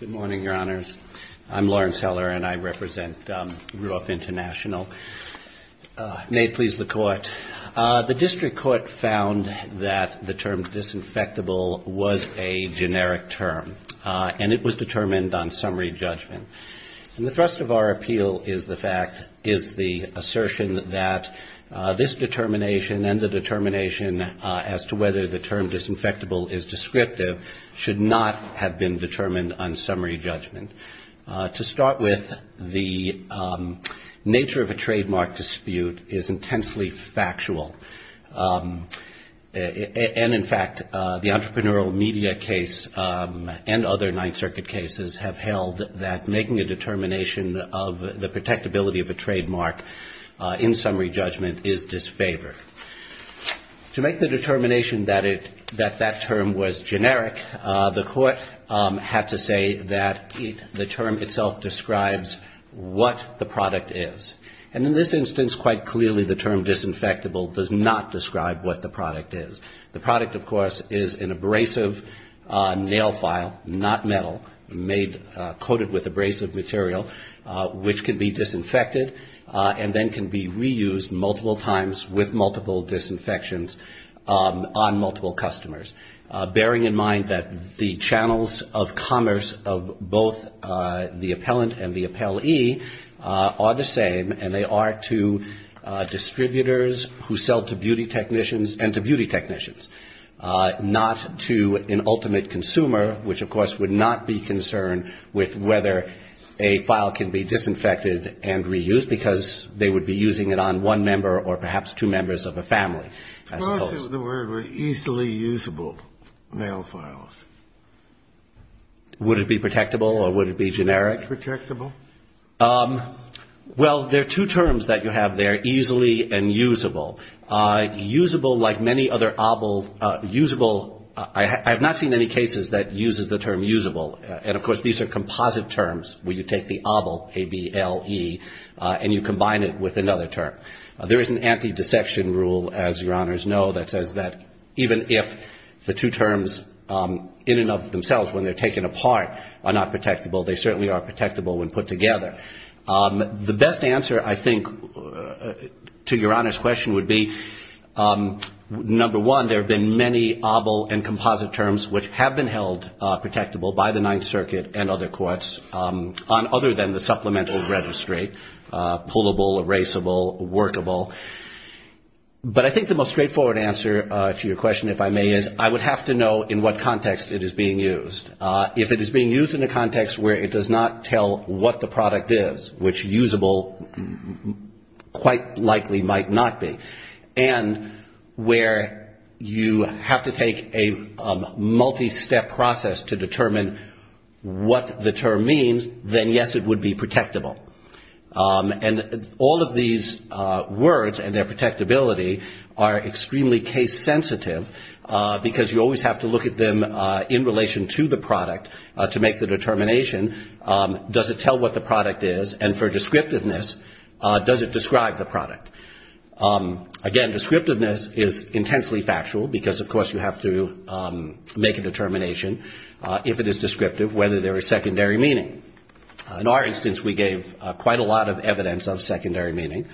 Good morning, Your Honors. I'm Lawrence Heller, and I represent RUF International. May it please the Court. The District Court found that the term disinfectable was a generic term, and it was determined on summary judgment. And the thrust of our appeal is the assertion that this determination and then the determination as to whether the term disinfectable is descriptive should not have been determined on summary judgment. To start with, the nature of a trademark dispute is intensely factual. And, in fact, the Entrepreneurial Media case and other Ninth Circuit cases have held that making a determination of the protectability of a trademark in summary judgment is disfavored. To make the determination that that term was generic, the Court had to say that the term itself describes what the product is. And in this instance, quite clearly the term disinfectable does not describe what the product is. The product, of course, is an abrasive nail file, not metal, coated with abrasive material, which can be disinfected and then can be reused multiple times with multiple disinfections on multiple customers, bearing in mind that the channels of commerce of both the appellant and the appellee are the same, and they are to distributors who sell to beauty technicians and to beauty technicians, not to an ultimate consumer, which, of course, would not be concerned with whether a file can be disinfected and reused because they would be using it on one member or perhaps two members of a family. Suppose the word were easily usable, nail files. Would it be protectable or would it be generic? Protectable. Well, there are two terms that you have there, easily and usable. Usable, like many other I have not seen any cases that uses the term usable. And, of course, these are composite terms where you take the ABLE, A-B-L-E, and you combine it with another term. There is an anti-dissection rule, as Your Honors know, that says that even if the two terms in and of themselves, when they're taken apart, are not protectable, they certainly are protectable when put together. The best answer, I think, to Your Honor's question would be, number one, there have been many ABLE and composite terms which have been held protectable by the Ninth Circuit and other courts, other than the supplemental registrate, pullable, erasable, workable. But I think the most straightforward answer to your question, if I may, is I would have to know in what context it is being used. If it is being used in a context where it is, which usable quite likely might not be, and where you have to take a multi-step process to determine what the term means, then, yes, it would be protectable. And all of these words and their protectability are extremely case sensitive, because you always have to look at them in relation to the product to make the determination, does it tell what the product is, and for descriptiveness, does it describe the product? Again, descriptiveness is intensely factual, because of course you have to make a determination, if it is descriptive, whether there is secondary meaning. In our instance, we gave quite a lot of evidence of secondary meaning,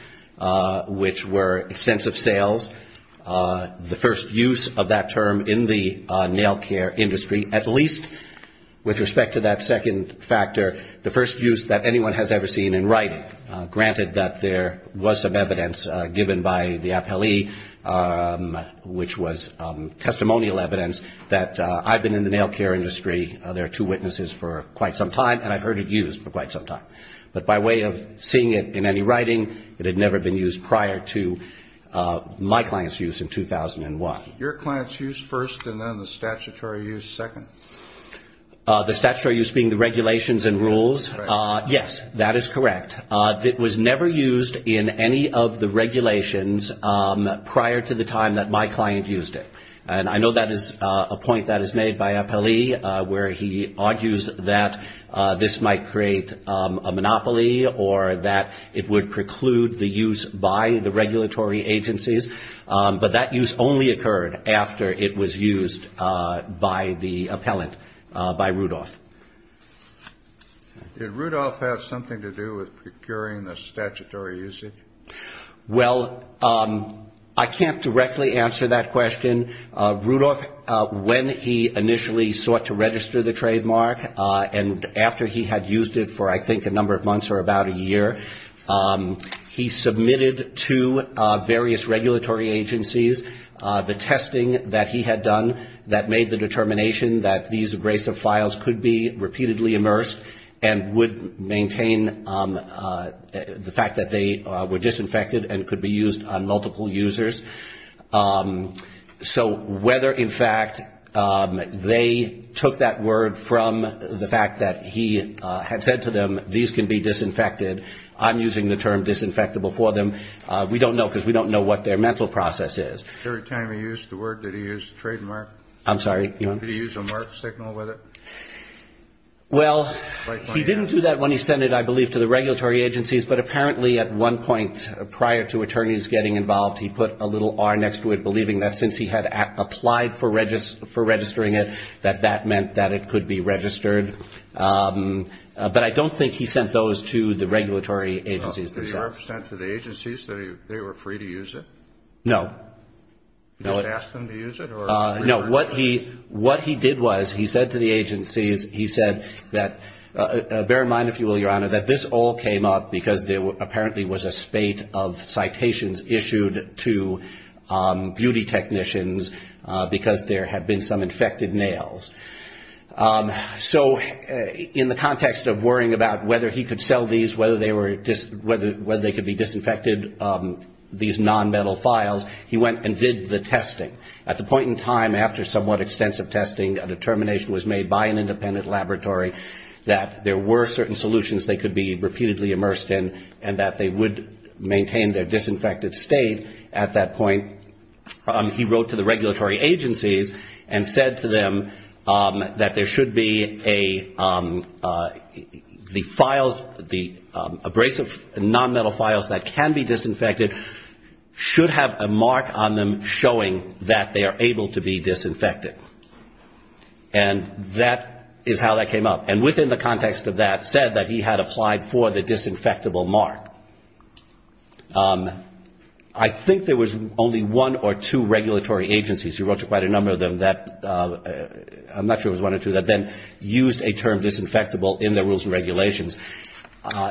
which were extensive sales, the first use of that term in the nail care industry, at least with respect to that second factor, the first use that anyone has ever seen in writing. Granted that there was some evidence given by the appellee, which was testimonial evidence, that I've been in the nail care industry, there are two witnesses for quite some time, and I've heard it used for quite some time. But by way of seeing it in any writing, it had never been used prior to my client's use in 2001. Your client's use first, and then the statutory use second? The statutory use being the regulations and rules. Yes, that is correct. It was never used in any of the regulations prior to the time that my client used it. I know that is a point that is made by appellee, where he argues that this might create a monopoly, or that it would preclude the use by the regulatory agencies. But that use only occurred after it was used by the appellant, by Rudolph. Did Rudolph have something to do with procuring the statutory usage? Well, I can't directly answer that question. Rudolph, when he initially sought to register the trademark, and after he had used it for I think a number of months or about a year, he submitted to various regulatory agencies the testing that he had done that made the determination that these abrasive files could be repeatedly immersed and would maintain the fact that they were disinfected and could be used on multiple users. So whether, in fact, they took that word from the fact that he had said to them, these can be disinfected, I'm using the term disinfectable for them, we don't know because we don't know what their mental process is. Every time he used the word, did he use trademark? I'm sorry? Did he use a mark signal with it? Well, he didn't do that when he sent it, I believe, to the regulatory agencies, but apparently at one point prior to attorneys getting involved, he put a little R next to it, believing that since he had applied for registering it, that that meant that it could be registered. But I don't think he sent those to the regulatory agencies themselves. Did he ever send to the agencies that they were free to use it? No. Did he ask them to use it? No. What he did was, he said to the agencies, he said that, bear in mind, if you will, Your Honor, that this all came up because there apparently was a spate of citations issued to beauty technicians because there had been some infected nails. So in the context of worrying about whether he could sell these, whether they could be disinfected, these non-metal files, he went and did the testing. At the point in time after somewhat extensive testing, a determination was made by an independent laboratory that there were certain solutions they could be repeatedly immersed in and that they would maintain their disinfected state. At that point, he wrote to the regulatory agencies and said to them that there should be a, the files, the abrasive non-metal files that can be disinfected should have a mark on them showing that they are able to be disinfected. And that is how that came up. And within the context of that, said that he had applied for the disinfectable mark. I think there was only one or two regulatory agencies. He wrote to quite a number of them that, I'm not sure if it was one or two, that then used a term disinfectable in their rules and regulations.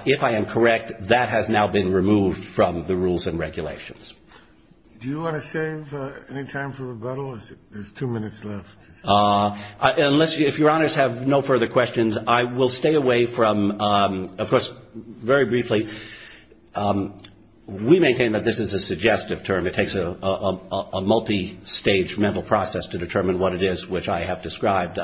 If I am correct, that has now been removed from the rules and regulations. Do you want to save any time for rebuttal? There's two minutes left. Unless, if Your Honors have no further questions, I will stay away from, of course, very briefly, we maintain that this is a suggestive term. It takes a multistage mental process to determine what it is which I have described.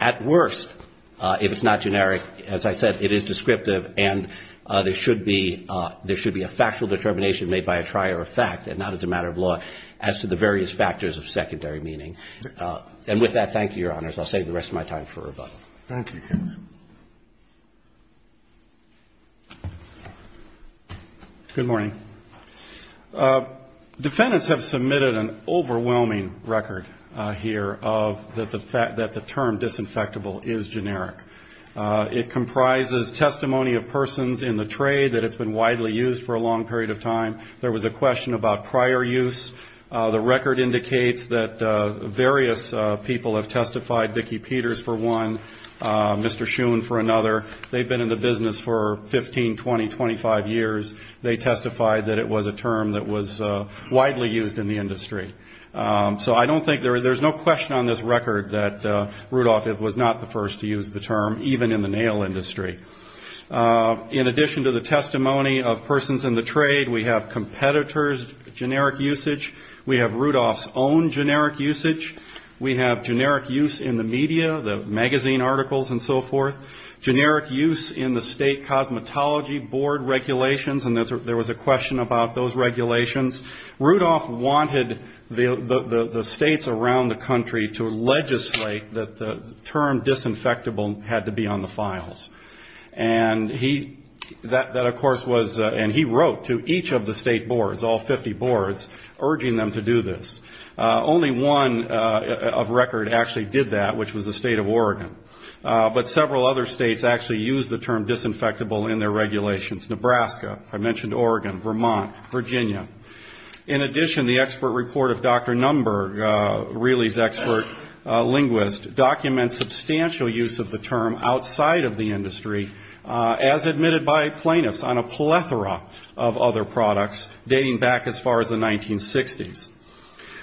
At worst, if it's not generic, as I said, it is descriptive and there should be a factual determination made by a trier of fact and not as a matter of law as to the various factors of secondary meaning. And with that, thank you, Your Honors. I'll save the rest of my time for rebuttal. Thank you. Good morning. Defendants have submitted an overwhelming record here of that the term disinfectable is generic. It comprises testimony of persons in the trade that it's been widely used for a long period of time. There was a question about prior use. The record indicates that various people have testified, Vicki Peters for one, Mr. Schoon for another. They've been in the business for 15, 20, 25 years. They testified that it was a term that was widely used in the industry. So I don't think there's no question on this record that Rudolph was not the first to use the term, even in the nail industry. In addition to the testimony of persons in the trade, we have competitors' generic usage. We have Rudolph's own generic usage. We have generic use in the media, the magazine articles and so forth. Generic use in the state cosmetology board regulations, and there was a question about those regulations. Rudolph wanted the states around the country to legislate that the term disinfectable had to be on the files. And he, that of course was, and he wrote to each of the state boards, all 50 boards, urging them to do this. Only one of record actually did that, which was the state of Oregon. But several other states actually used the term disinfectable in their regulations. Nebraska, I mentioned Oregon, Vermont, Virginia. In addition, the expert report of Dr. Numburg, Reilly's expert linguist, documents substantial use of the term outside of the industry, as admitted by plaintiffs, on a plethora of other products dating back as far as the 1960s.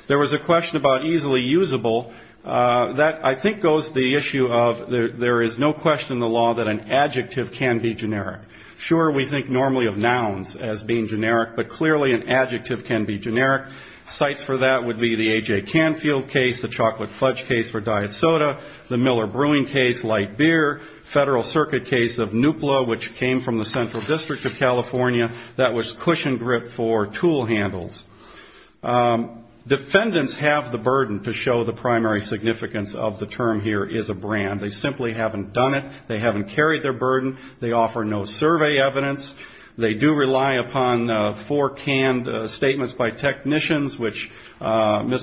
There was a question about easily usable. That, I think, goes to the issue of there is no question in the law that an adjective can be generic. Sure, we think normally of nouns as being generic, but clearly an adjective can be generic. Cites for that would be the A.J. Canfield case, the chocolate fudge case for diet soda, the Miller Brewing case, light beer, Federal Circuit case of Nupla, which came from the Central District of California, that was cushion grip for tool handles. Defendants have the burden to show the primary significance of the term here is a brand. They simply haven't done it. They haven't carried their burden. They offer no survey evidence. They do rely upon four canned statements by technicians, and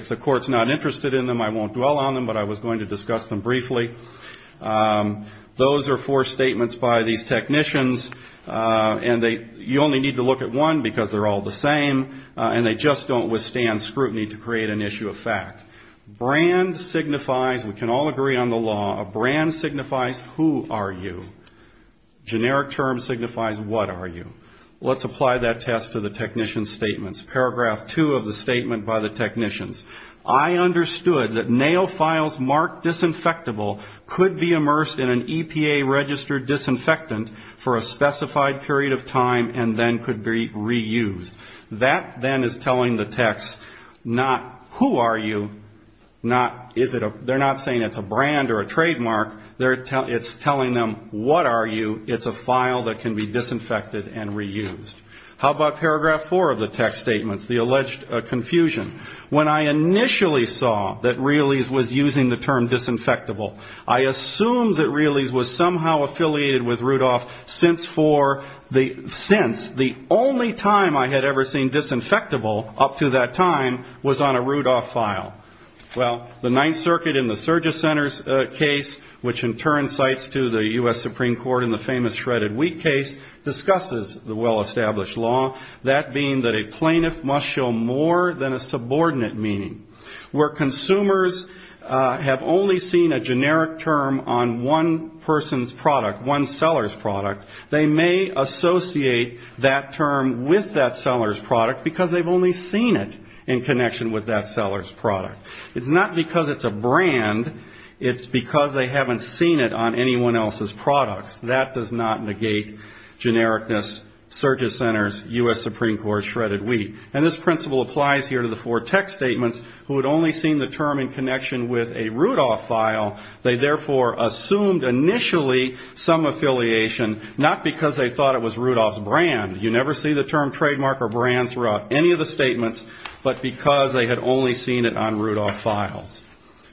if the court's not interested in them, I won't dwell on them, but I was going to discuss them briefly. Those are four statements by these technicians, and you only need to look at one because they're all the same, and they just don't withstand scrutiny to create an issue of fact. Brand signifies, we can all agree on the law, a brand signifies who are you. Generic term signifies what are you. Let's apply that test to the other technicians. I understood that nail files marked disinfectable could be immersed in an EPA-registered disinfectant for a specified period of time and then could be reused. That then is telling the techs not who are you, not is it a, they're not saying it's a brand or a trademark, it's telling them what are you, it's a file that can be disinfected and reused. How about paragraph four of the tech statements, the alleged confusion? When I initially saw that Realey's was using the term disinfectable, I assumed that Realey's was somehow affiliated with Rudolph since for the, since the only time I had ever seen disinfectable up to that time was on a Rudolph file. Well, the Ninth Circuit in the Surges Center's case, which in turn cites to the U.S. Supreme Court established law, that being that a plaintiff must show more than a subordinate meaning. Where consumers have only seen a generic term on one person's product, one seller's product, they may associate that term with that seller's product because they've only seen it in connection with that seller's product. It's not because it's a brand, it's because they haven't seen it on anyone else's products. That does not negate genericness, Surges Center's U.S. Supreme Court's shredded wheat. And this principle applies here to the four tech statements, who had only seen the term in connection with a Rudolph file, they therefore assumed initially some affiliation, not because they thought it was Rudolph's brand. You never see the term trademark or brand throughout any of the statements, but because they had only seen it on Rudolph files.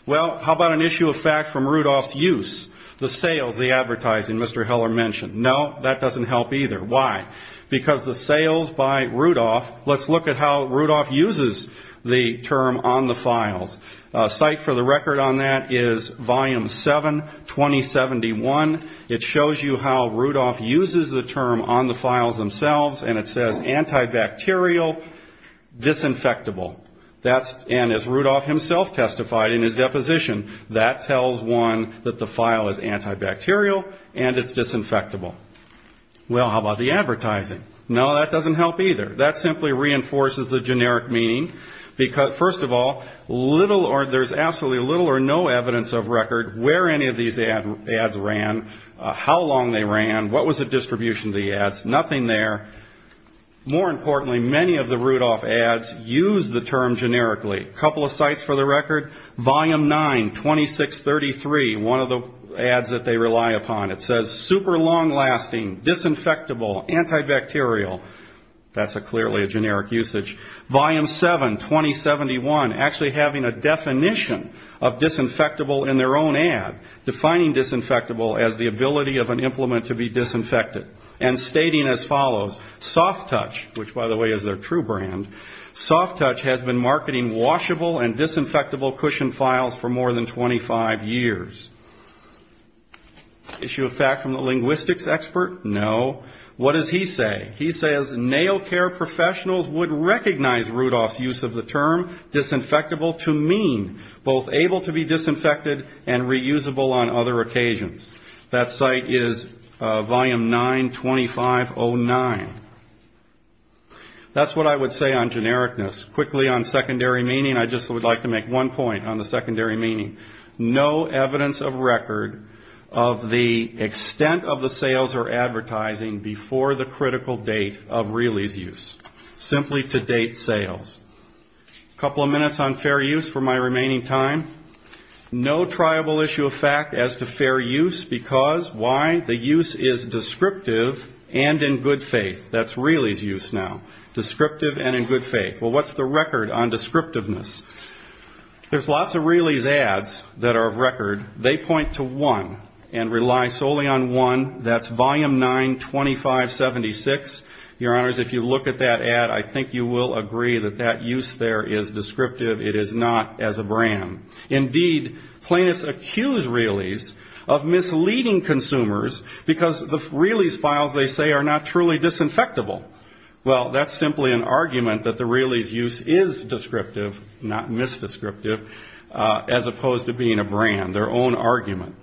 Well, how about an issue of fact from Rudolph's use? The sales, the advertising, Mr. Heller mentioned. No, that doesn't help either. Why? Because the sales by Rudolph, let's look at how Rudolph uses the term on the files. A site for the record on that is Volume 7, 2071. It shows you how Rudolph uses the term on the files themselves, and it says antibacterial, disinfectable. And as Rudolph himself testified in his deposition, that tells one that the file is antibacterial and it's disinfectable. Well, how about the advertising? No, that doesn't help either. That simply reinforces the generic meaning, because first of all, little or there's absolutely little or no evidence of record where any of these ads ran, how long they ran, what was the distribution of the ads, nothing there. More importantly, many of the Rudolph ads use the term generically. A couple of sites for the record, Super Long Lasting, Disinfectable, Antibacterial, that's clearly a generic usage. Volume 7, 2071, actually having a definition of disinfectable in their own ad, defining disinfectable as the ability of an implement to be disinfected, and stating as follows, Soft Touch, which by the way is their true brand, Soft Touch has been marketing washable and disinfectable cushion files for more than 25 years. Issue of fact from the linguistics expert, no. What does he say? He says nail care professionals would recognize Rudolph's use of the term disinfectable to mean both able to be disinfected and reusable on other occasions. That site is Volume 9, 2509. That's what I would say on genericness. Quickly on secondary meaning, I just would like to make one point on the secondary meaning. No evidence of record of the extent of the sales or advertising before the critical date of Realey's use, simply to date sales. A couple of minutes on fair use for my remaining time. No triable issue of fact as to fair use because why? The use is descriptive and in good faith. That's Realey's use now, descriptive and in good faith. Well, what's the record on descriptiveness? There's lots of brands that are of record. They point to one and rely solely on one. That's Volume 9, 2576. Your Honors, if you look at that ad, I think you will agree that that use there is descriptive. It is not as a brand. Indeed, plaintiffs accuse Realey's of misleading consumers because the Realey's files they say are not truly disinfectable. Well, that's simply an argument that the Realey's use is misleading a brand, their own argument.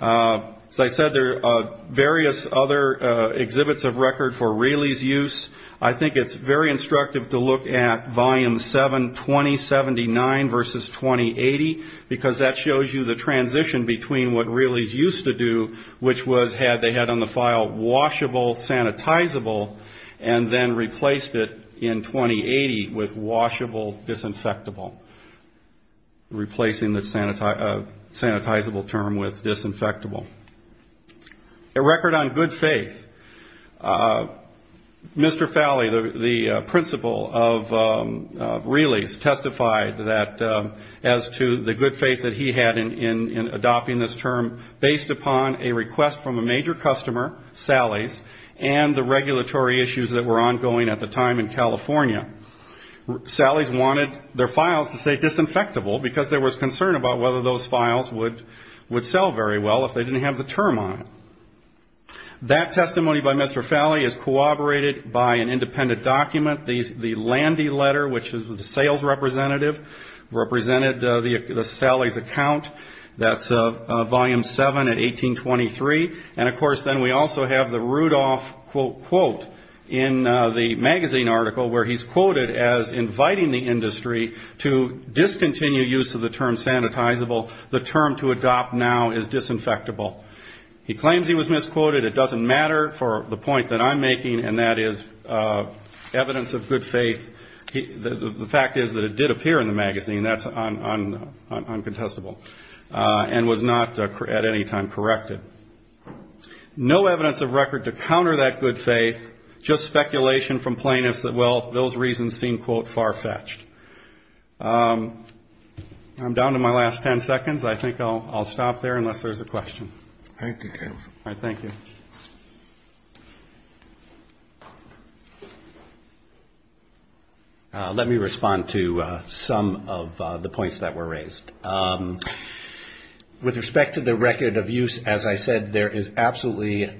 As I said, there are various other exhibits of record for Realey's use. I think it's very instructive to look at Volume 7, 2079 versus 2080 because that shows you the transition between what Realey's used to do, which was had they had on the file washable, sanitizable, and then replaced it in 2080 with washable, disinfectable. Replacing the sanitizable term with disinfectable. A record on good faith. Mr. Falley, the principal of Realey's, testified that as to the good faith that he had in adopting this term based upon a request from a major customer, Sally's, and the regulatory issues that were ongoing at the time in California. Sally's wanted their files to say disinfectable because there was concern about what they would do, whether those files would sell very well if they didn't have the term on it. That testimony by Mr. Falley is corroborated by an independent document, the Landy Letter, which was the sales representative, represented the Sally's account. That's Volume 7 at 1823. And, of course, then we also have the Rudolph quote in the magazine article where he's quoted as inviting the industry to discontinue use of the term sanitizer and to replace it with sanitizable. The term to adopt now is disinfectable. He claims he was misquoted. It doesn't matter for the point that I'm making, and that is evidence of good faith. The fact is that it did appear in the magazine, and that's uncontestable, and was not at any time corrected. No evidence of record to counter that good faith, just speculation from plainness that, well, those reasons seem, quote, far-fetched. I'm down to my last ten sentences. So, if you'll give me a few seconds, I think I'll stop there, unless there's a question. Thank you. Let me respond to some of the points that were raised. With respect to the record of use, as I said, there is absolutely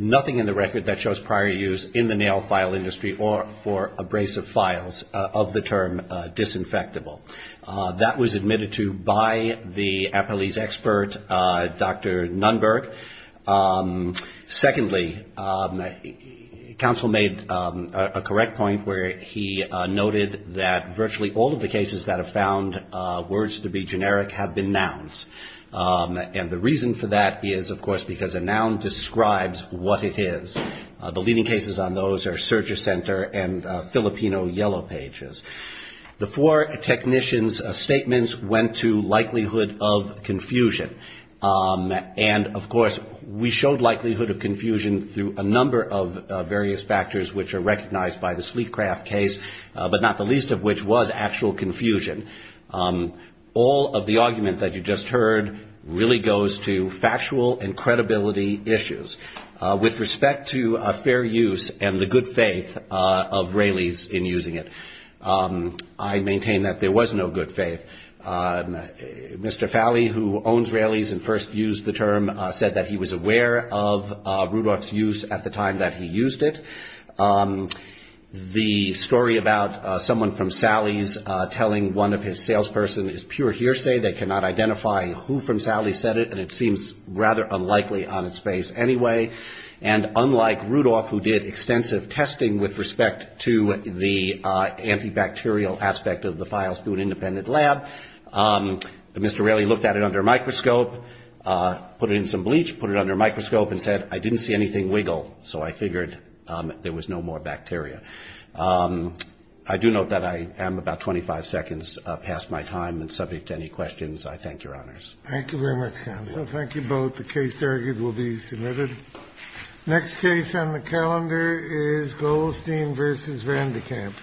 nothing in the record that shows prior use in the nail file industry or for abrasive files of the term disinfectable. That was admitted to by the Apalis expert, Dr. Nunberg. Secondly, counsel made a correct point where he noted that virtually all of the cases that have found words to be generic have been nouns. And the reason for that is, of course, because a noun describes what it is. The leading cases on those are Surger Center and Filipino Yellow Pages. The four technicians' statements went to likelihood of confusion. And, of course, we showed likelihood of confusion through a number of various factors which are recognized by the Sleekcraft case, but not the least of which was actual confusion. All of the argument that you just heard really goes to factual and credibility issues. With respect to fair use and the good faith of Raley's in using it, I maintain that there was no good faith. Mr. Fowley, who owns Raley's and first used the term, said that he was aware of Rudolph's use at the time that he used it. The story about someone from Sally's telling one of his salesperson is pure hearsay. They cannot identify who from Sally's said it, and it seems rather unlikely on its face anyway. And unlike Rudolph, who did extensive testing with respect to the antibacterial aspect of the files through an independent lab, Mr. Raley looked at it under a microscope, put it in some bleach, put it under a microscope and said, I didn't see anything wiggle, so I figured there was no more bacteria. I do note that I am about 25 seconds past my time and subject to any questions. I thank your honors. Next case on the calendar is Goldstein versus Vandy Camp. Thank you for watching.